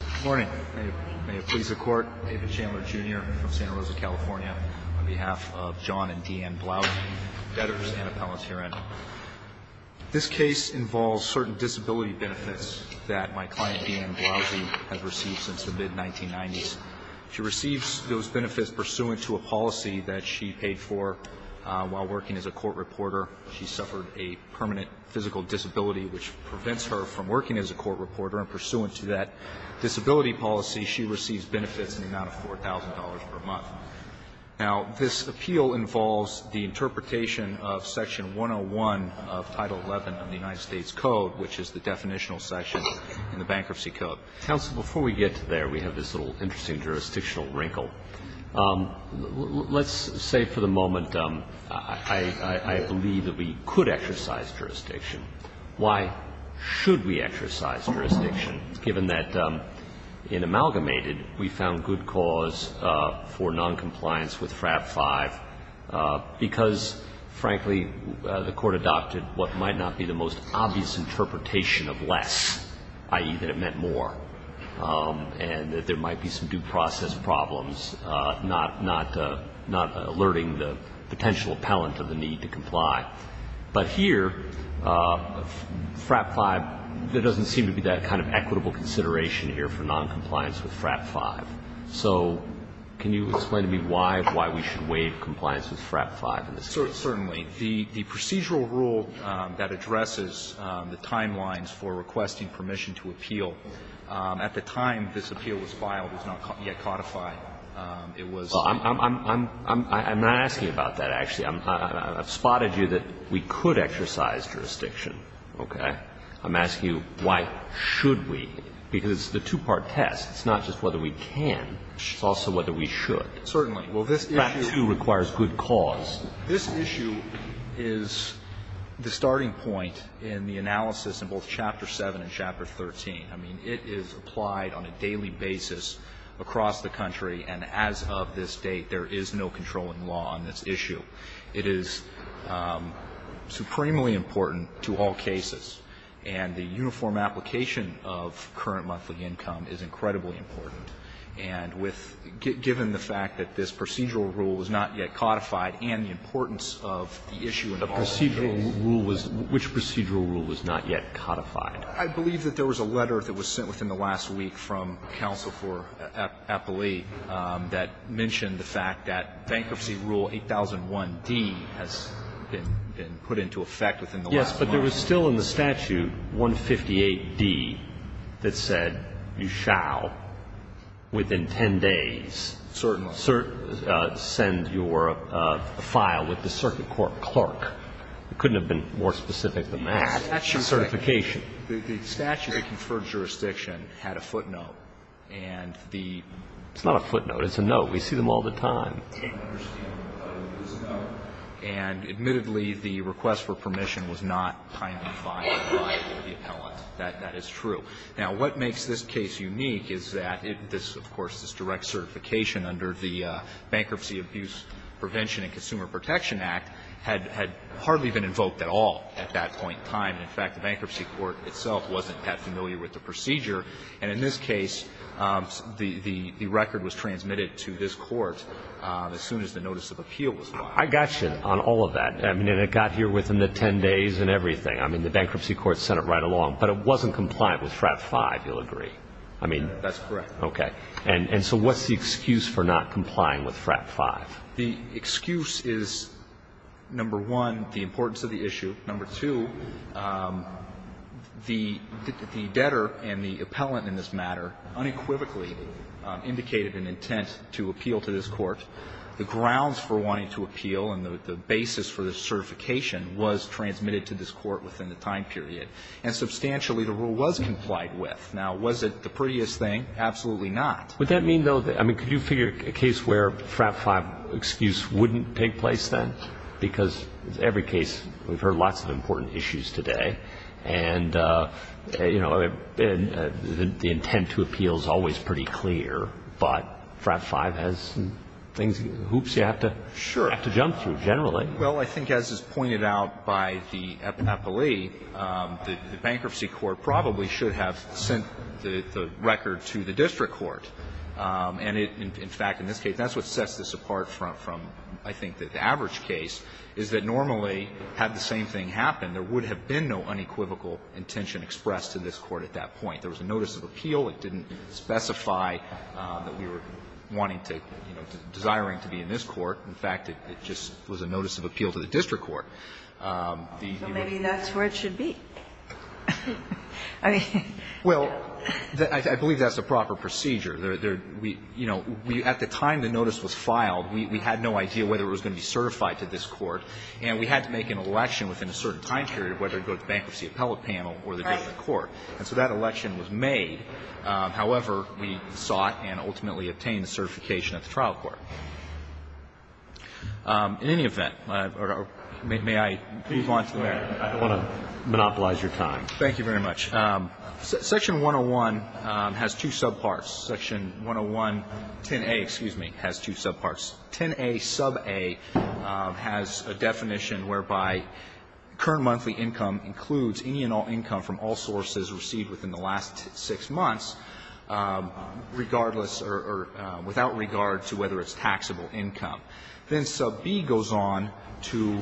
Good morning. May it please the Court, David Chandler, Jr. from Santa Rosa, California, on behalf of John and Deanne Blausey, debtors and appellate herein. This case involves certain disability benefits that my client, Deanne Blausey, has received since the mid-1990s. She receives those benefits pursuant to a policy that she paid for while working as a court reporter. She suffered a permanent physical disability, which prevents her from working as a court reporter. And pursuant to that disability policy, she receives benefits in the amount of $4,000 per month. Now, this appeal involves the interpretation of Section 101 of Title XI of the United States Code, which is the definitional section in the Bankruptcy Code. Counsel, before we get to there, we have this little interesting jurisdictional wrinkle. Let's say for the moment I believe that we could exercise jurisdiction. Why should we exercise jurisdiction, given that in Amalgamated we found good cause for noncompliance with FRAP 5, because, frankly, the Court adopted what might not be the most obvious interpretation of less, i.e., that it meant more, and that there might be some due process problems, not alerting the potential appellant of the need to comply. But here, FRAP 5, there doesn't seem to be that kind of equitable consideration here for noncompliance with FRAP 5. So can you explain to me why, why we should waive compliance with FRAP 5 in this case? Certainly. The procedural rule that addresses the timelines for requesting permission to appeal at the time this appeal was filed was not yet codified. It was the... Well, I'm not asking about that, actually. I've spotted you that we could exercise jurisdiction. Okay? I'm asking you why should we, because it's the two-part test. It's not just whether we can. It's also whether we should. Certainly. Well, this issue... FRAP 2 requires good cause. This issue is the starting point in the analysis in both Chapter 7 and Chapter 13. I mean, it is applied on a daily basis across the country. And as of this date, there is no controlling law on this issue. It is supremely important to all cases. And the uniform application of current monthly income is incredibly important. And given the fact that this procedural rule was not yet codified and the importance of the issue in all cases... Which procedural rule was not yet codified? I believe that there was a letter that was sent within the last week from counsel for Applee that mentioned the fact that bankruptcy rule 8001D has been put into effect within the last month. But there was still in the statute 158D that said you shall, within 10 days... Certainly. ...send your file with the circuit court clerk. It couldn't have been more specific than that. The statute... Certification. The statute that conferred jurisdiction had a footnote. And the... It's not a footnote. It's a note. We see them all the time. And admittedly, the request for permission was not kindly filed by the appellant. That is true. Now, what makes this case unique is that this, of course, this direct certification under the Bankruptcy Abuse Prevention and Consumer Protection Act had hardly been invoked at all at that point in time. In fact, the bankruptcy court itself wasn't that familiar with the procedure. And in this case, the record was transmitted to this court as soon as the notice of appeal was filed. I got you on all of that. I mean, and it got here within the 10 days and everything. I mean, the bankruptcy court sent it right along. But it wasn't compliant with FRAP 5, you'll agree. I mean... That's correct. Okay. And so what's the excuse for not complying with FRAP 5? The excuse is, number one, the importance of the issue. Number two, the debtor and the appellant in this matter unequivocally indicated an intent to appeal to this Court. The grounds for wanting to appeal and the basis for the certification was transmitted to this Court within the time period. And substantially, the rule was complied with. Now, was it the prettiest thing? Absolutely not. Would that mean, though, I mean, could you figure a case where a FRAP 5 excuse wouldn't take place then? Because every case, we've heard lots of important issues today. And, you know, the intent to appeal is always pretty clear. But FRAP 5 has things, hoops you have to jump through generally. Well, I think as is pointed out by the appellee, the bankruptcy court probably should have sent the record to the district court. And, in fact, in this case, that's what sets this apart from, I think, the average case, is that normally, had the same thing happened, there would have been no unequivocal intention expressed to this Court at that point. There was a notice of appeal. It didn't specify that we were wanting to, you know, desiring to be in this court. In fact, it just was a notice of appeal to the district court. So maybe that's where it should be. I mean. Well, I believe that's the proper procedure. You know, at the time the notice was filed, we had no idea whether it was going to be certified to this court. And we had to make an election within a certain time period, whether it go to the bankruptcy appellate panel or the district court. And so that election was made. However, we sought and ultimately obtained the certification at the trial court. In any event, may I move on to the next? I don't want to monopolize your time. Thank you very much. Section 101 has two subparts. Section 10110a, excuse me, has two subparts. 10a suba has a definition whereby current monthly income includes any and all income from all sources received within the last six months regardless or without regard to whether it's taxable income. Then subb goes on to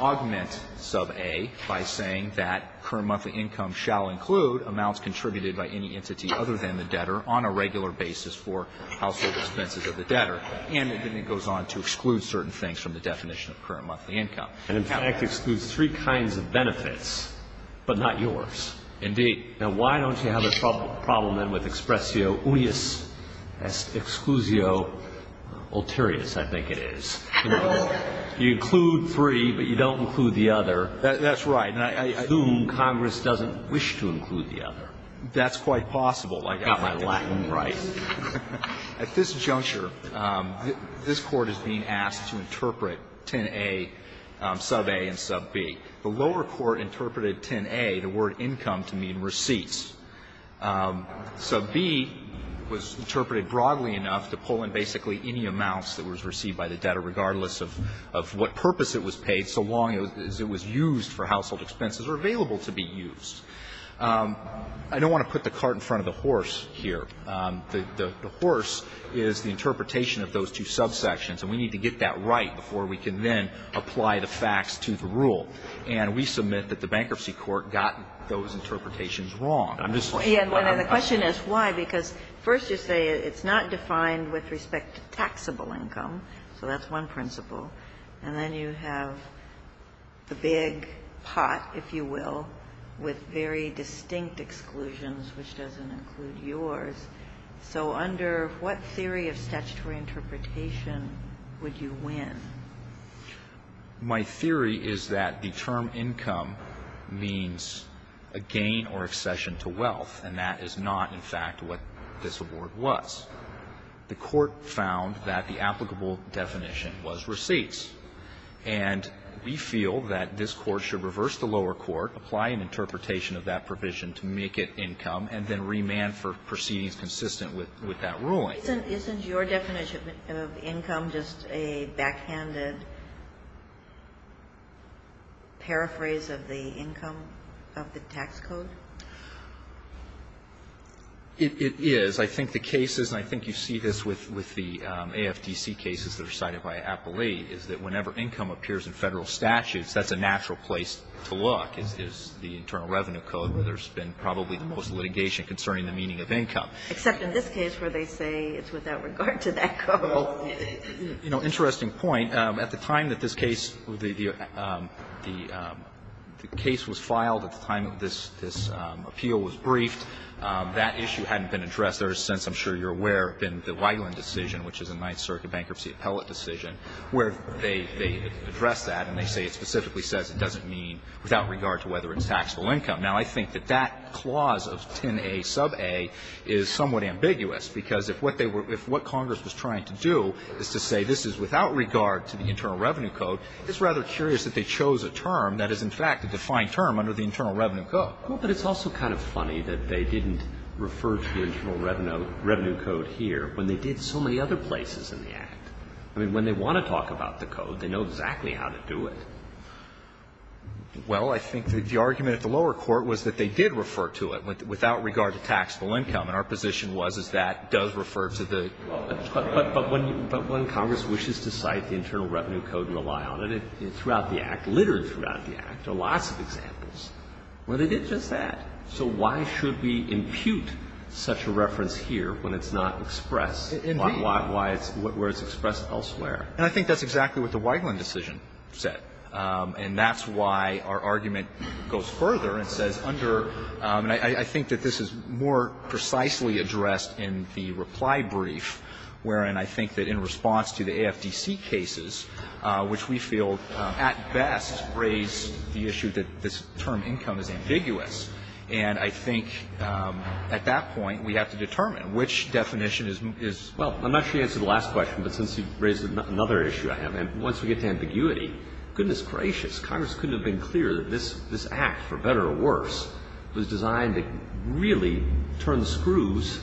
augment suba by saying that current monthly income shall include amounts contributed by any entity other than the debtor on a regular basis for household expenses of the debtor. And then it goes on to exclude certain things from the definition of current monthly income. And, in fact, excludes three kinds of benefits but not yours. Indeed. Now, why don't you have a problem then with expressio unius exclusio ulterioris, I think it is. You include three, but you don't include the other. That's right. And I assume Congress doesn't wish to include the other. That's quite possible. I got my Latin right. At this juncture, this Court is being asked to interpret 10a, suba, and subb. The lower court interpreted 10a, the word income, to mean receipts. Subb was interpreted broadly enough to pull in basically any amounts that was received by the debtor regardless of what purpose it was paid so long as it was used for household expenses or available to be used. I don't want to put the cart in front of the horse here. The horse is the interpretation of those two subsections. And we need to get that right before we can then apply the facts to the rule. And we submit that the bankruptcy court got those interpretations wrong. I'm just saying. And the question is why. Because first you say it's not defined with respect to taxable income. So that's one principle. And then you have the big pot, if you will, with very distinct exclusions, which doesn't include yours. So under what theory of statutory interpretation would you win? My theory is that the term income means a gain or accession to wealth. And that is not, in fact, what this award was. The Court found that the applicable definition was receipts. And we feel that this Court should reverse the lower court, apply an interpretation of that provision to make it income, and then remand for proceedings consistent with that ruling. Isn't your definition of income just a backhanded paraphrase of the income of the tax code? It is. I think the case is, and I think you see this with the AFTC cases that are cited by Appellee, is that whenever income appears in Federal statutes, that's a natural place to look. It's the Internal Revenue Code where there's been probably the most litigation concerning the meaning of income. Except in this case where they say it's without regard to that code. Well, you know, interesting point. At the time that this case, the case was filed, at the time that this appeal was briefed, that issue hadn't been addressed. There has since, I'm sure you're aware, been the Wigeland decision, which is a Ninth Circuit bankruptcy appellate decision, where they address that and they say it specifically says it doesn't mean without regard to whether it's taxable income. Now, I think that that clause of 10a sub a is somewhat ambiguous, because if what Congress was trying to do is to say this is without regard to the Internal Revenue Code, it's rather curious that they chose a term that is in fact a defined term under the Internal Revenue Code. Well, but it's also kind of funny that they didn't refer to the Internal Revenue Code here when they did so many other places in the Act. I mean, when they want to talk about the code, they know exactly how to do it. Well, I think that the argument at the lower court was that they did refer to it, without regard to taxable income. And our position was, is that does refer to the Internal Revenue Code. But when Congress wishes to cite the Internal Revenue Code and rely on it, it's throughout the Act, littered throughout the Act. There are lots of examples where they did just that. So why should we impute such a reference here when it's not expressed where it's expressed elsewhere? And I think that's exactly what the Wigeland decision said. And that's why our argument goes further and says under – and I think that this is more precisely addressed in the reply brief, wherein I think that in response to the AFDC cases, which we feel at best raise the issue that this term, income, is ambiguous. And I think at that point we have to determine which definition is – is – Well, I'm not sure you answered the last question, but since you raised another issue I have, and once we get to ambiguity, goodness gracious, Congress couldn't have been clearer that this – this Act, for better or worse, was designed to really turn the screws,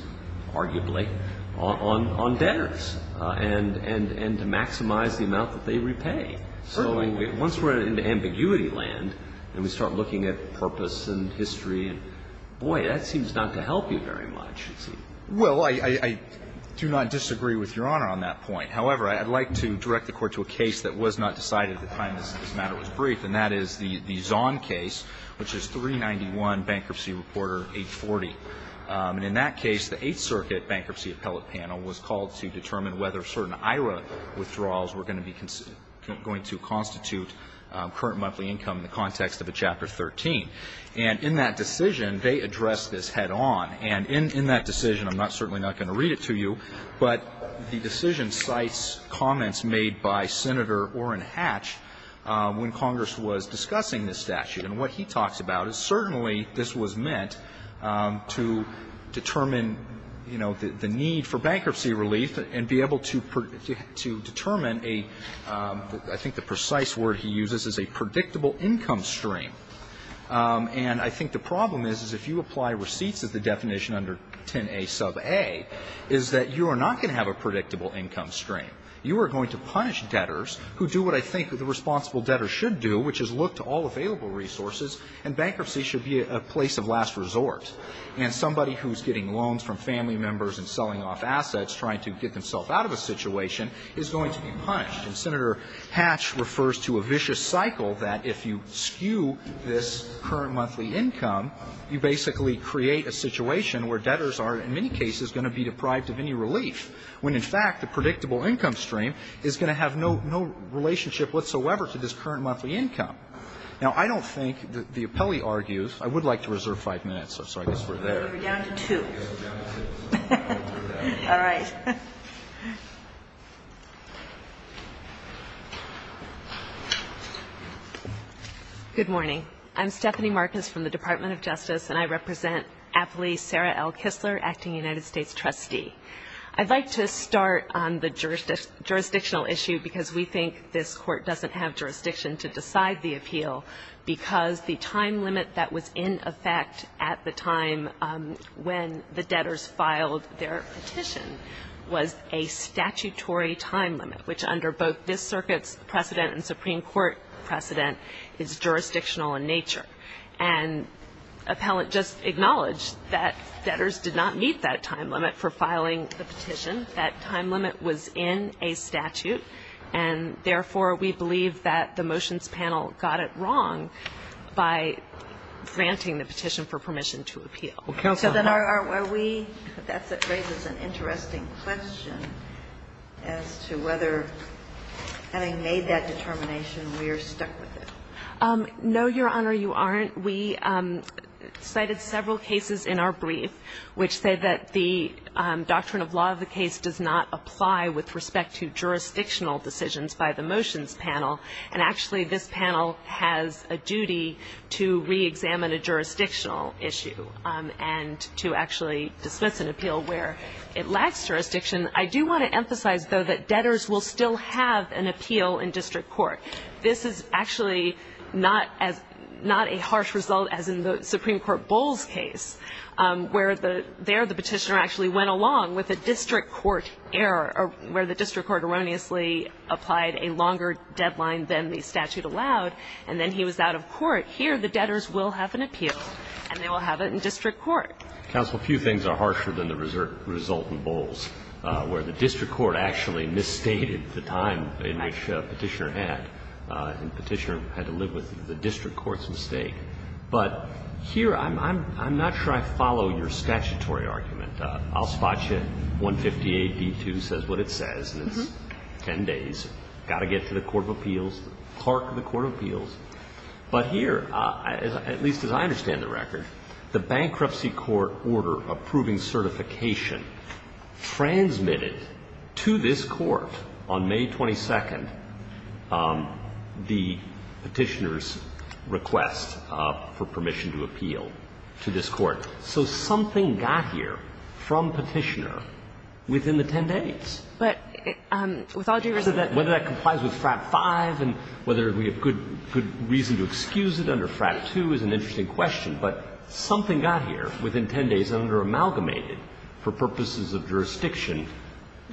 arguably, on – on debtors and – and to maximize the amount that they repay. So once we're in the ambiguity land and we start looking at purpose and history and, boy, that seems not to help you very much, you see. Well, I – I do not disagree with Your Honor on that point. However, I'd like to direct the Court to a case that was not decided at the time this matter was brief, and that is the – the Zahn case, which is 391 Bankruptcy Reporter 840. And in that case, the Eighth Circuit Bankruptcy Appellate Panel was called to determine whether certain IRA withdrawals were going to be – going to constitute current monthly income in the context of a Chapter 13. And in that decision, they addressed this head-on. And in – in that decision, I'm not – certainly not going to read it to you, but the decision cites comments made by Senator Orrin Hatch when Congress was discussing this statute. And what he talks about is certainly this was meant to determine, you know, the – the need for bankruptcy relief and be able to – to determine a – I think the precise word he uses is a predictable income stream. And I think the problem is, is if you apply receipts as the definition under 10a sub A, is that you are not going to have a predictable income stream. You are going to punish debtors who do what I think the responsible debtor should do, which is look to all available resources, and bankruptcy should be a place of last resort. And somebody who's getting loans from family members and selling off assets trying to get themselves out of a situation is going to be punished. And Senator Hatch refers to a vicious cycle that if you skew this current monthly income, you basically create a situation where debtors are, in many cases, going to be deprived of any relief, when, in fact, the predictable income stream is going to have no – no relationship whatsoever to this current monthly income. Now, I don't think that the appellee argues – I would like to reserve five minutes, so I guess we're there. So we're down to two. We're down to two. All right. Good morning. I'm Stephanie Marcus from the Department of Justice, and I represent appellee Sarah L. Kistler, acting United States trustee. I'd like to start on the jurisdictional issue, because we think this Court doesn't have jurisdiction to decide the appeal, because the time limit that was in effect at the time when the debtors filed their petition was a statutory time limit, which under both this Circuit's precedent and Supreme Court precedent is jurisdictional in nature. And appellant just acknowledged that debtors did not meet that time limit for filing the petition. That time limit was in a statute, and therefore, we believe that the motions panel got it wrong by granting the petition for permission to appeal. Counsel. So then are we – that raises an interesting question as to whether, having made that determination, we are stuck with it. No, Your Honor, you aren't. We cited several cases in our brief which say that the doctrine of law of the case does not apply with respect to jurisdictional decisions by the motions panel. And actually, this panel has a duty to reexamine a jurisdictional issue and to actually dismiss an appeal where it lacks jurisdiction. I do want to emphasize, though, that debtors will still have an appeal in district court. This is actually not as – not a harsh result as in the Supreme Court Bowles case, where the – there the petitioner actually went along with a district court error where the district court erroneously applied a longer deadline than the statute allowed, and then he was out of court. Here, the debtors will have an appeal, and they will have it in district court. Counsel, a few things are harsher than the result in Bowles, where the district court actually misstated the time in which the petitioner had, and the petitioner had to live with the district court's mistake. But here, I'm not sure I follow your statutory argument. I'll spot you. 158d2 says what it says, and it's 10 days. Got to get to the court of appeals, park the court of appeals. But here, at least as I understand the record, the bankruptcy court order approving certification transmitted to this court on May 22nd the petitioner's request for permission to appeal to this court. So something got here from petitioner within the 10 days. But with all due respect to that, whether that complies with FRAP 5 and whether we have good reason to excuse it under FRAP 2 is an interesting question. But something got here within 10 days under amalgamated for purposes of jurisdiction.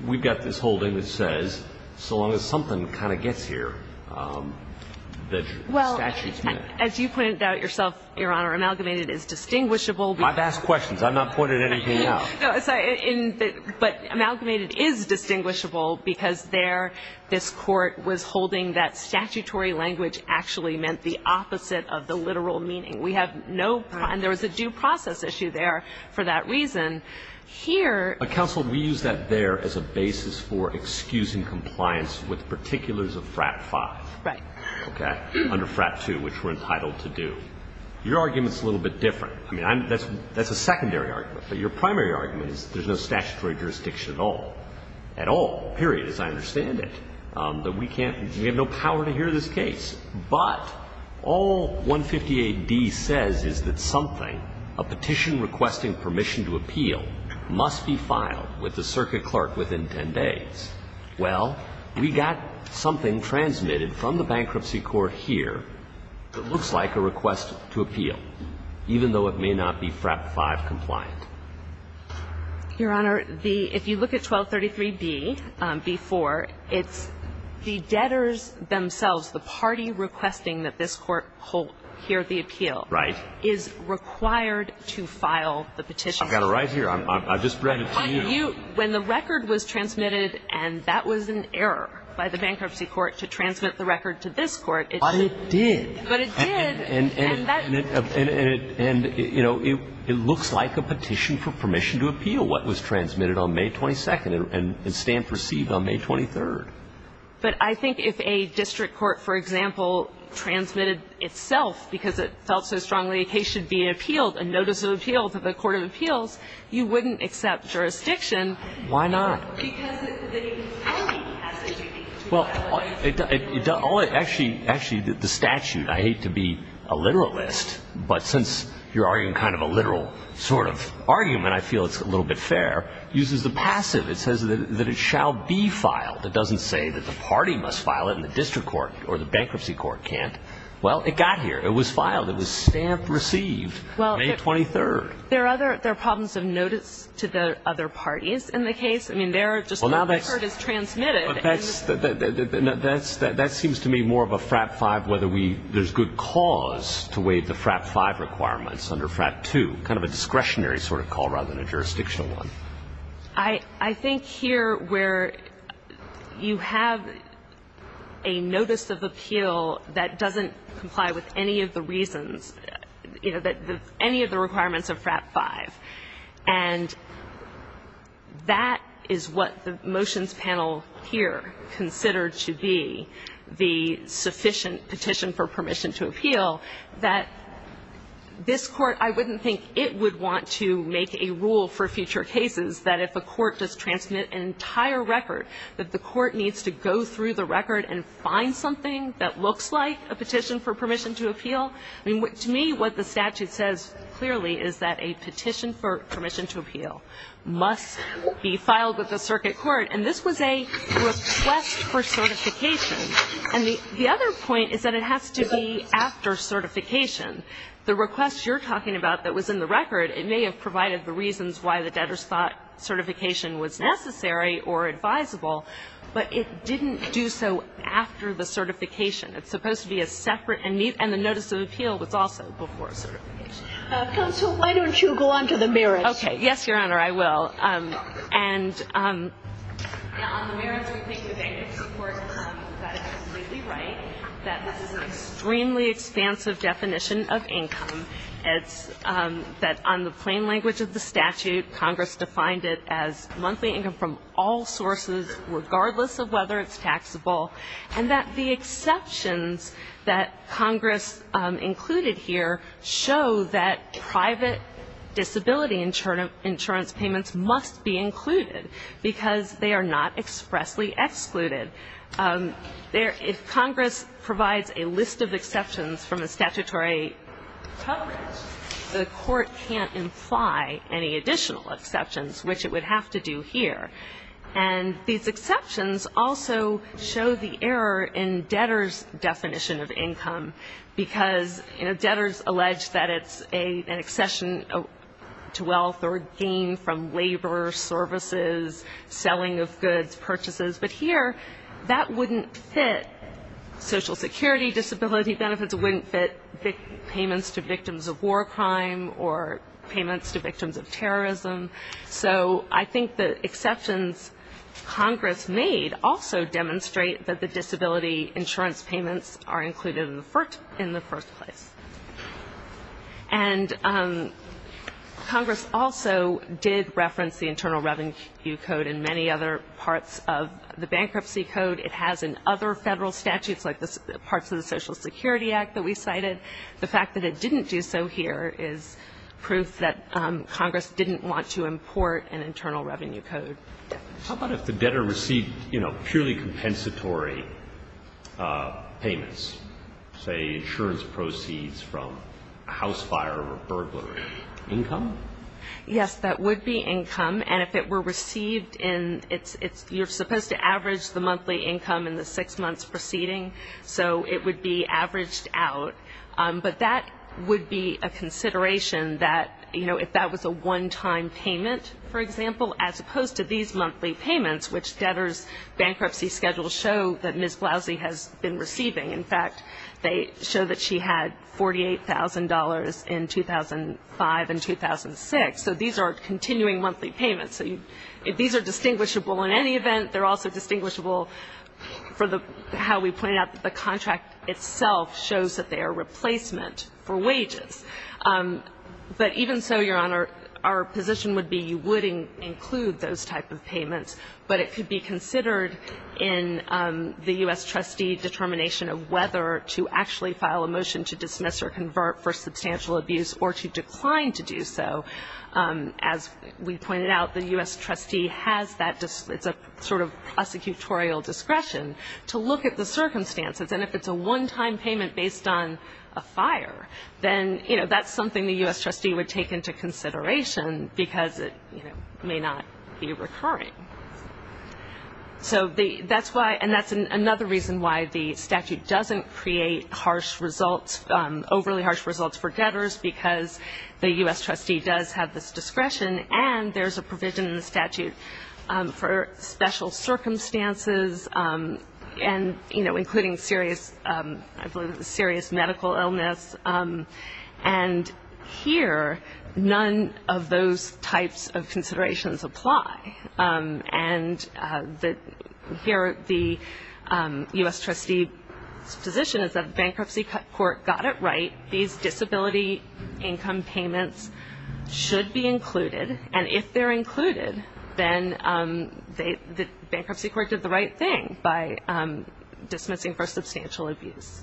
We've got this holding that says so long as something kind of gets here, the statute's met. Well, as you pointed out yourself, Your Honor, amalgamated is distinguishable because I've asked questions. I've not pointed anything out. No. But amalgamated is distinguishable because there this court was holding that statutory language actually meant the opposite of the literal meaning. We have no prime. There was a due process issue there for that reason. Here But, counsel, we use that there as a basis for excusing compliance with particulars of FRAP 5. Right. Okay? Under FRAP 2, which we're entitled to do. Your argument's a little bit different. I mean, that's a secondary argument. But your primary argument is there's no statutory jurisdiction at all. At all. Period. As I understand it. That we can't we have no power to hear this case. But all 158d says is that something, a petition requesting permission to appeal, must be filed with the circuit clerk within 10 days. Well, we got something transmitted from the bankruptcy court here that looks like a request to appeal. Even though it may not be FRAP 5 compliant. Your Honor, the, if you look at 1233b before, it's the debtors themselves, the party requesting that this court hear the appeal. Right. Is required to file the petition. I've got it right here. I just read it to you. When the record was transmitted and that was an error by the bankruptcy court to transmit the record to this court. But it did. But it did. And, you know, it looks like a petition for permission to appeal what was transmitted on May 22nd and stand perceived on May 23rd. But I think if a district court, for example, transmitted itself because it felt so strongly a case should be appealed, a notice of appeal to the court of appeals, you wouldn't accept jurisdiction. Why not? Because the only passage, I think. But since you're arguing kind of a literal sort of argument, I feel it's a little bit fair, uses the passive. It says that it shall be filed. It doesn't say that the party must file it and the district court or the bankruptcy court can't. Well, it got here. It was filed. It was stamped, received. May 23rd. There are problems of notice to the other parties in the case. I mean, their record is transmitted. But that seems to me more of a FRAP 5, whether there's good cause to waive the FRAP 5 requirements under FRAP 2, kind of a discretionary sort of call rather than a jurisdictional one. I think here where you have a notice of appeal that doesn't comply with any of the reasons, you know, any of the requirements of FRAP 5. And that is what the motions panel here considered to be the sufficient petition for permission to appeal, that this court, I wouldn't think it would want to make a rule for future cases that if a court does transmit an entire record, that the court needs to go through the record and find something that looks like a petition for permission to appeal. I mean, to me, what the statute says clearly is that a petition for permission to appeal must be filed with the circuit court. And this was a request for certification. And the other point is that it has to be after certification. The request you're talking about that was in the record, it may have provided the reasons why the debtors thought certification was necessary or advisable, but it didn't do so after the certification. It's supposed to be a separate and meet. And the notice of appeal was also before certification. Counsel, why don't you go on to the merits? Okay. Yes, Your Honor, I will. And on the merits, we think the bankers report got it completely right, that this is an extremely expansive definition of income, that on the plain language of the statute, Congress defined it as monthly income from all sources, regardless of whether it's taxable, and that the exceptions that Congress included here show that private disability insurance payments must be included because they are not expressly excluded. If Congress provides a list of exceptions from a statutory coverage, the court can't imply any additional exceptions, which it would have to do here. And these exceptions also show the error in debtors' definition of income, because, you know, debtors allege that it's an accession to wealth or a gain from labor, services, selling of goods, purchases. But here, that wouldn't fit Social Security disability benefits. It wouldn't fit payments to victims of war crime or payments to victims of terrorism. So I think the exceptions Congress made also demonstrate that the disability insurance payments are included in the first place. And Congress also did reference the Internal Revenue Code and many other parts of the Bankruptcy Code. It has in other federal statutes, like parts of the Social Security Act that we cited. The fact that it didn't do so here is proof that Congress didn't want to import an Internal Revenue Code. How about if the debtor received, you know, purely compensatory payments, say insurance proceeds from a house fire or a burglary? Income? Yes, that would be income. And if it were received in its you're supposed to average the monthly income in the six months preceding. So it would be averaged out. But that would be a consideration that, you know, if that was a one-time payment, for example, as opposed to these monthly payments, which debtors' bankruptcy schedules show that Ms. Blousy has been receiving. In fact, they show that she had $48,000 in 2005 and 2006. So these are continuing monthly payments. So these are distinguishable in any event. They're also distinguishable for how we pointed out that the contract itself shows that they are replacement for wages. But even so, Your Honor, our position would be you would include those type of payments, but it could be considered in the U.S. trustee determination of whether to actually file a motion to dismiss or convert for substantial abuse or to decline to do so. As we pointed out, the U.S. trustee has that sort of prosecutorial discretion to look at the circumstances. And if it's a one-time payment based on a fire, then, you know, that's something the U.S. trustee would take into consideration because it may not be recurring. So that's why, and that's another reason why the statute doesn't create harsh results, overly harsh results for debtors because the U.S. trustee does have this discretion and there's a provision in the statute for special circumstances and, you know, including serious medical illness. And here none of those types of considerations apply. And here the U.S. trustee's position is that the bankruptcy court got it right. These disability income payments should be included. And if they're included, then the bankruptcy court did the right thing by dismissing for substantial abuse.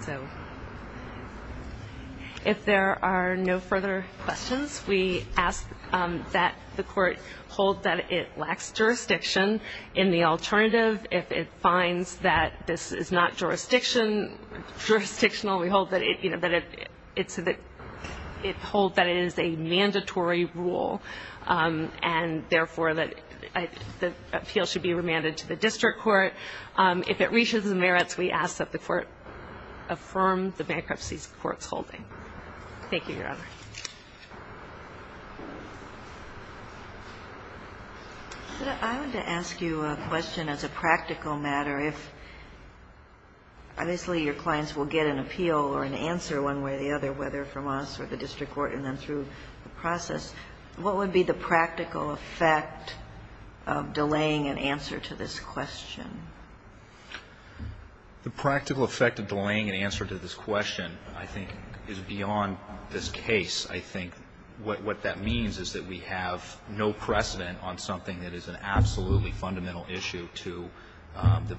So if there are no further questions, we ask that the court hold that it lacks jurisdiction in the alternative. If it finds that this is not jurisdictional, we hold that it is a mandatory rule and, therefore, that the appeal should be remanded to the district court. If it reaches the merits, we ask that the court affirm the bankruptcy court's holding. Thank you, Your Honor. Ginsburg. I wanted to ask you a question as a practical matter. If obviously your clients will get an appeal or an answer one way or the other, whether from us or the district court and then through the process, what would be the practical effect of delaying an answer to this question? The practical effect of delaying an answer to this question, I think, is beyond this case. I think what that means is that we have no precedent on something that is an absolutely fundamental issue to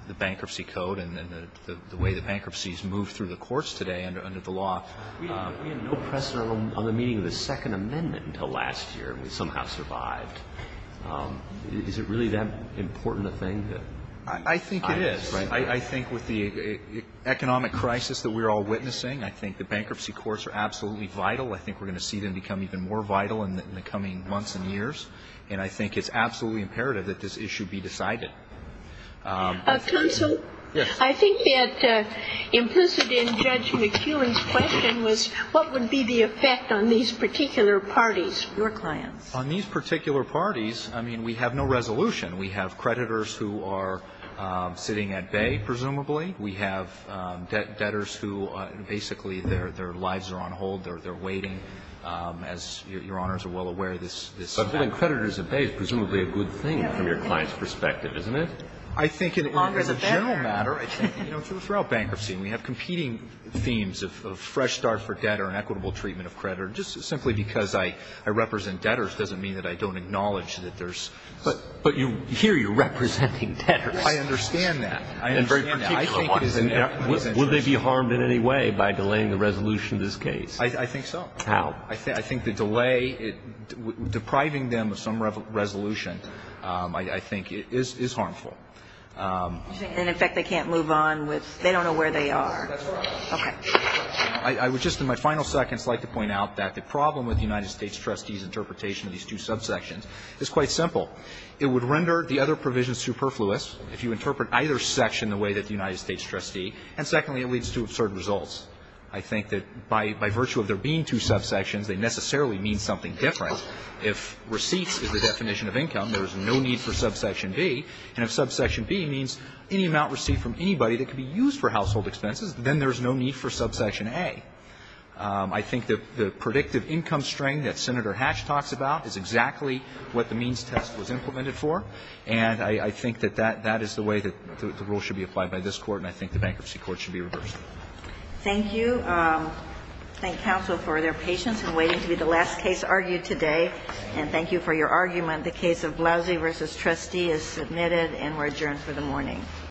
the Bankruptcy Code and the way that bankruptcies move through the courts today under the law. We have no precedent on the meeting of the Second Amendment until last year. We somehow survived. Is it really that important a thing? I think it is. I think with the economic crisis that we're all witnessing, I think the bankruptcy courts are absolutely vital. I think we're going to see them become even more vital in the coming months and years. And I think it's absolutely imperative that this issue be decided. Counsel. Yes. I think that implicit in Judge McKeown's question was what would be the effect on these particular parties, your clients? On these particular parties, I mean, we have no resolution. We have creditors who are sitting at bay, presumably. We have debtors who basically their lives are on hold. They're waiting, as Your Honors are well aware, this time. But getting creditors at bay is presumably a good thing from your client's perspective, isn't it? I think as a general matter, I think throughout bankruptcy we have competing themes of fresh start for debtor and equitable treatment of creditor. Just simply because I represent debtors doesn't mean that I don't acknowledge that there's – But here you're representing debtors. I understand that. I understand that. I think it is in everyone's interest. Would they be harmed in any way by delaying the resolution of this case? I think so. How? I think the delay depriving them of some resolution, I think, is harmful. And, in fact, they can't move on with – they don't know where they are. That's right. Okay. I would just in my final seconds like to point out that the problem with the United States trustees' interpretation of these two subsections is quite simple. It would render the other provisions superfluous if you interpret either section the way that the United States trustee, and secondly, it leads to absurd results. I think that by virtue of there being two subsections, they necessarily mean something different. If receipts is the definition of income, there is no need for subsection B. And if subsection B means any amount received from anybody that could be used for household expenses, then there is no need for subsection A. I think that the predictive income strain that Senator Hatch talks about is exactly what the means test was implemented for. And I think that that is the way that the rule should be applied by this Court, and I think the bankruptcy court should be reversed. Thank you. Thank counsel for their patience in waiting to be the last case argued today, and thank you for your argument. The case of Blousey v. Trustee is submitted and we're adjourned for the morning.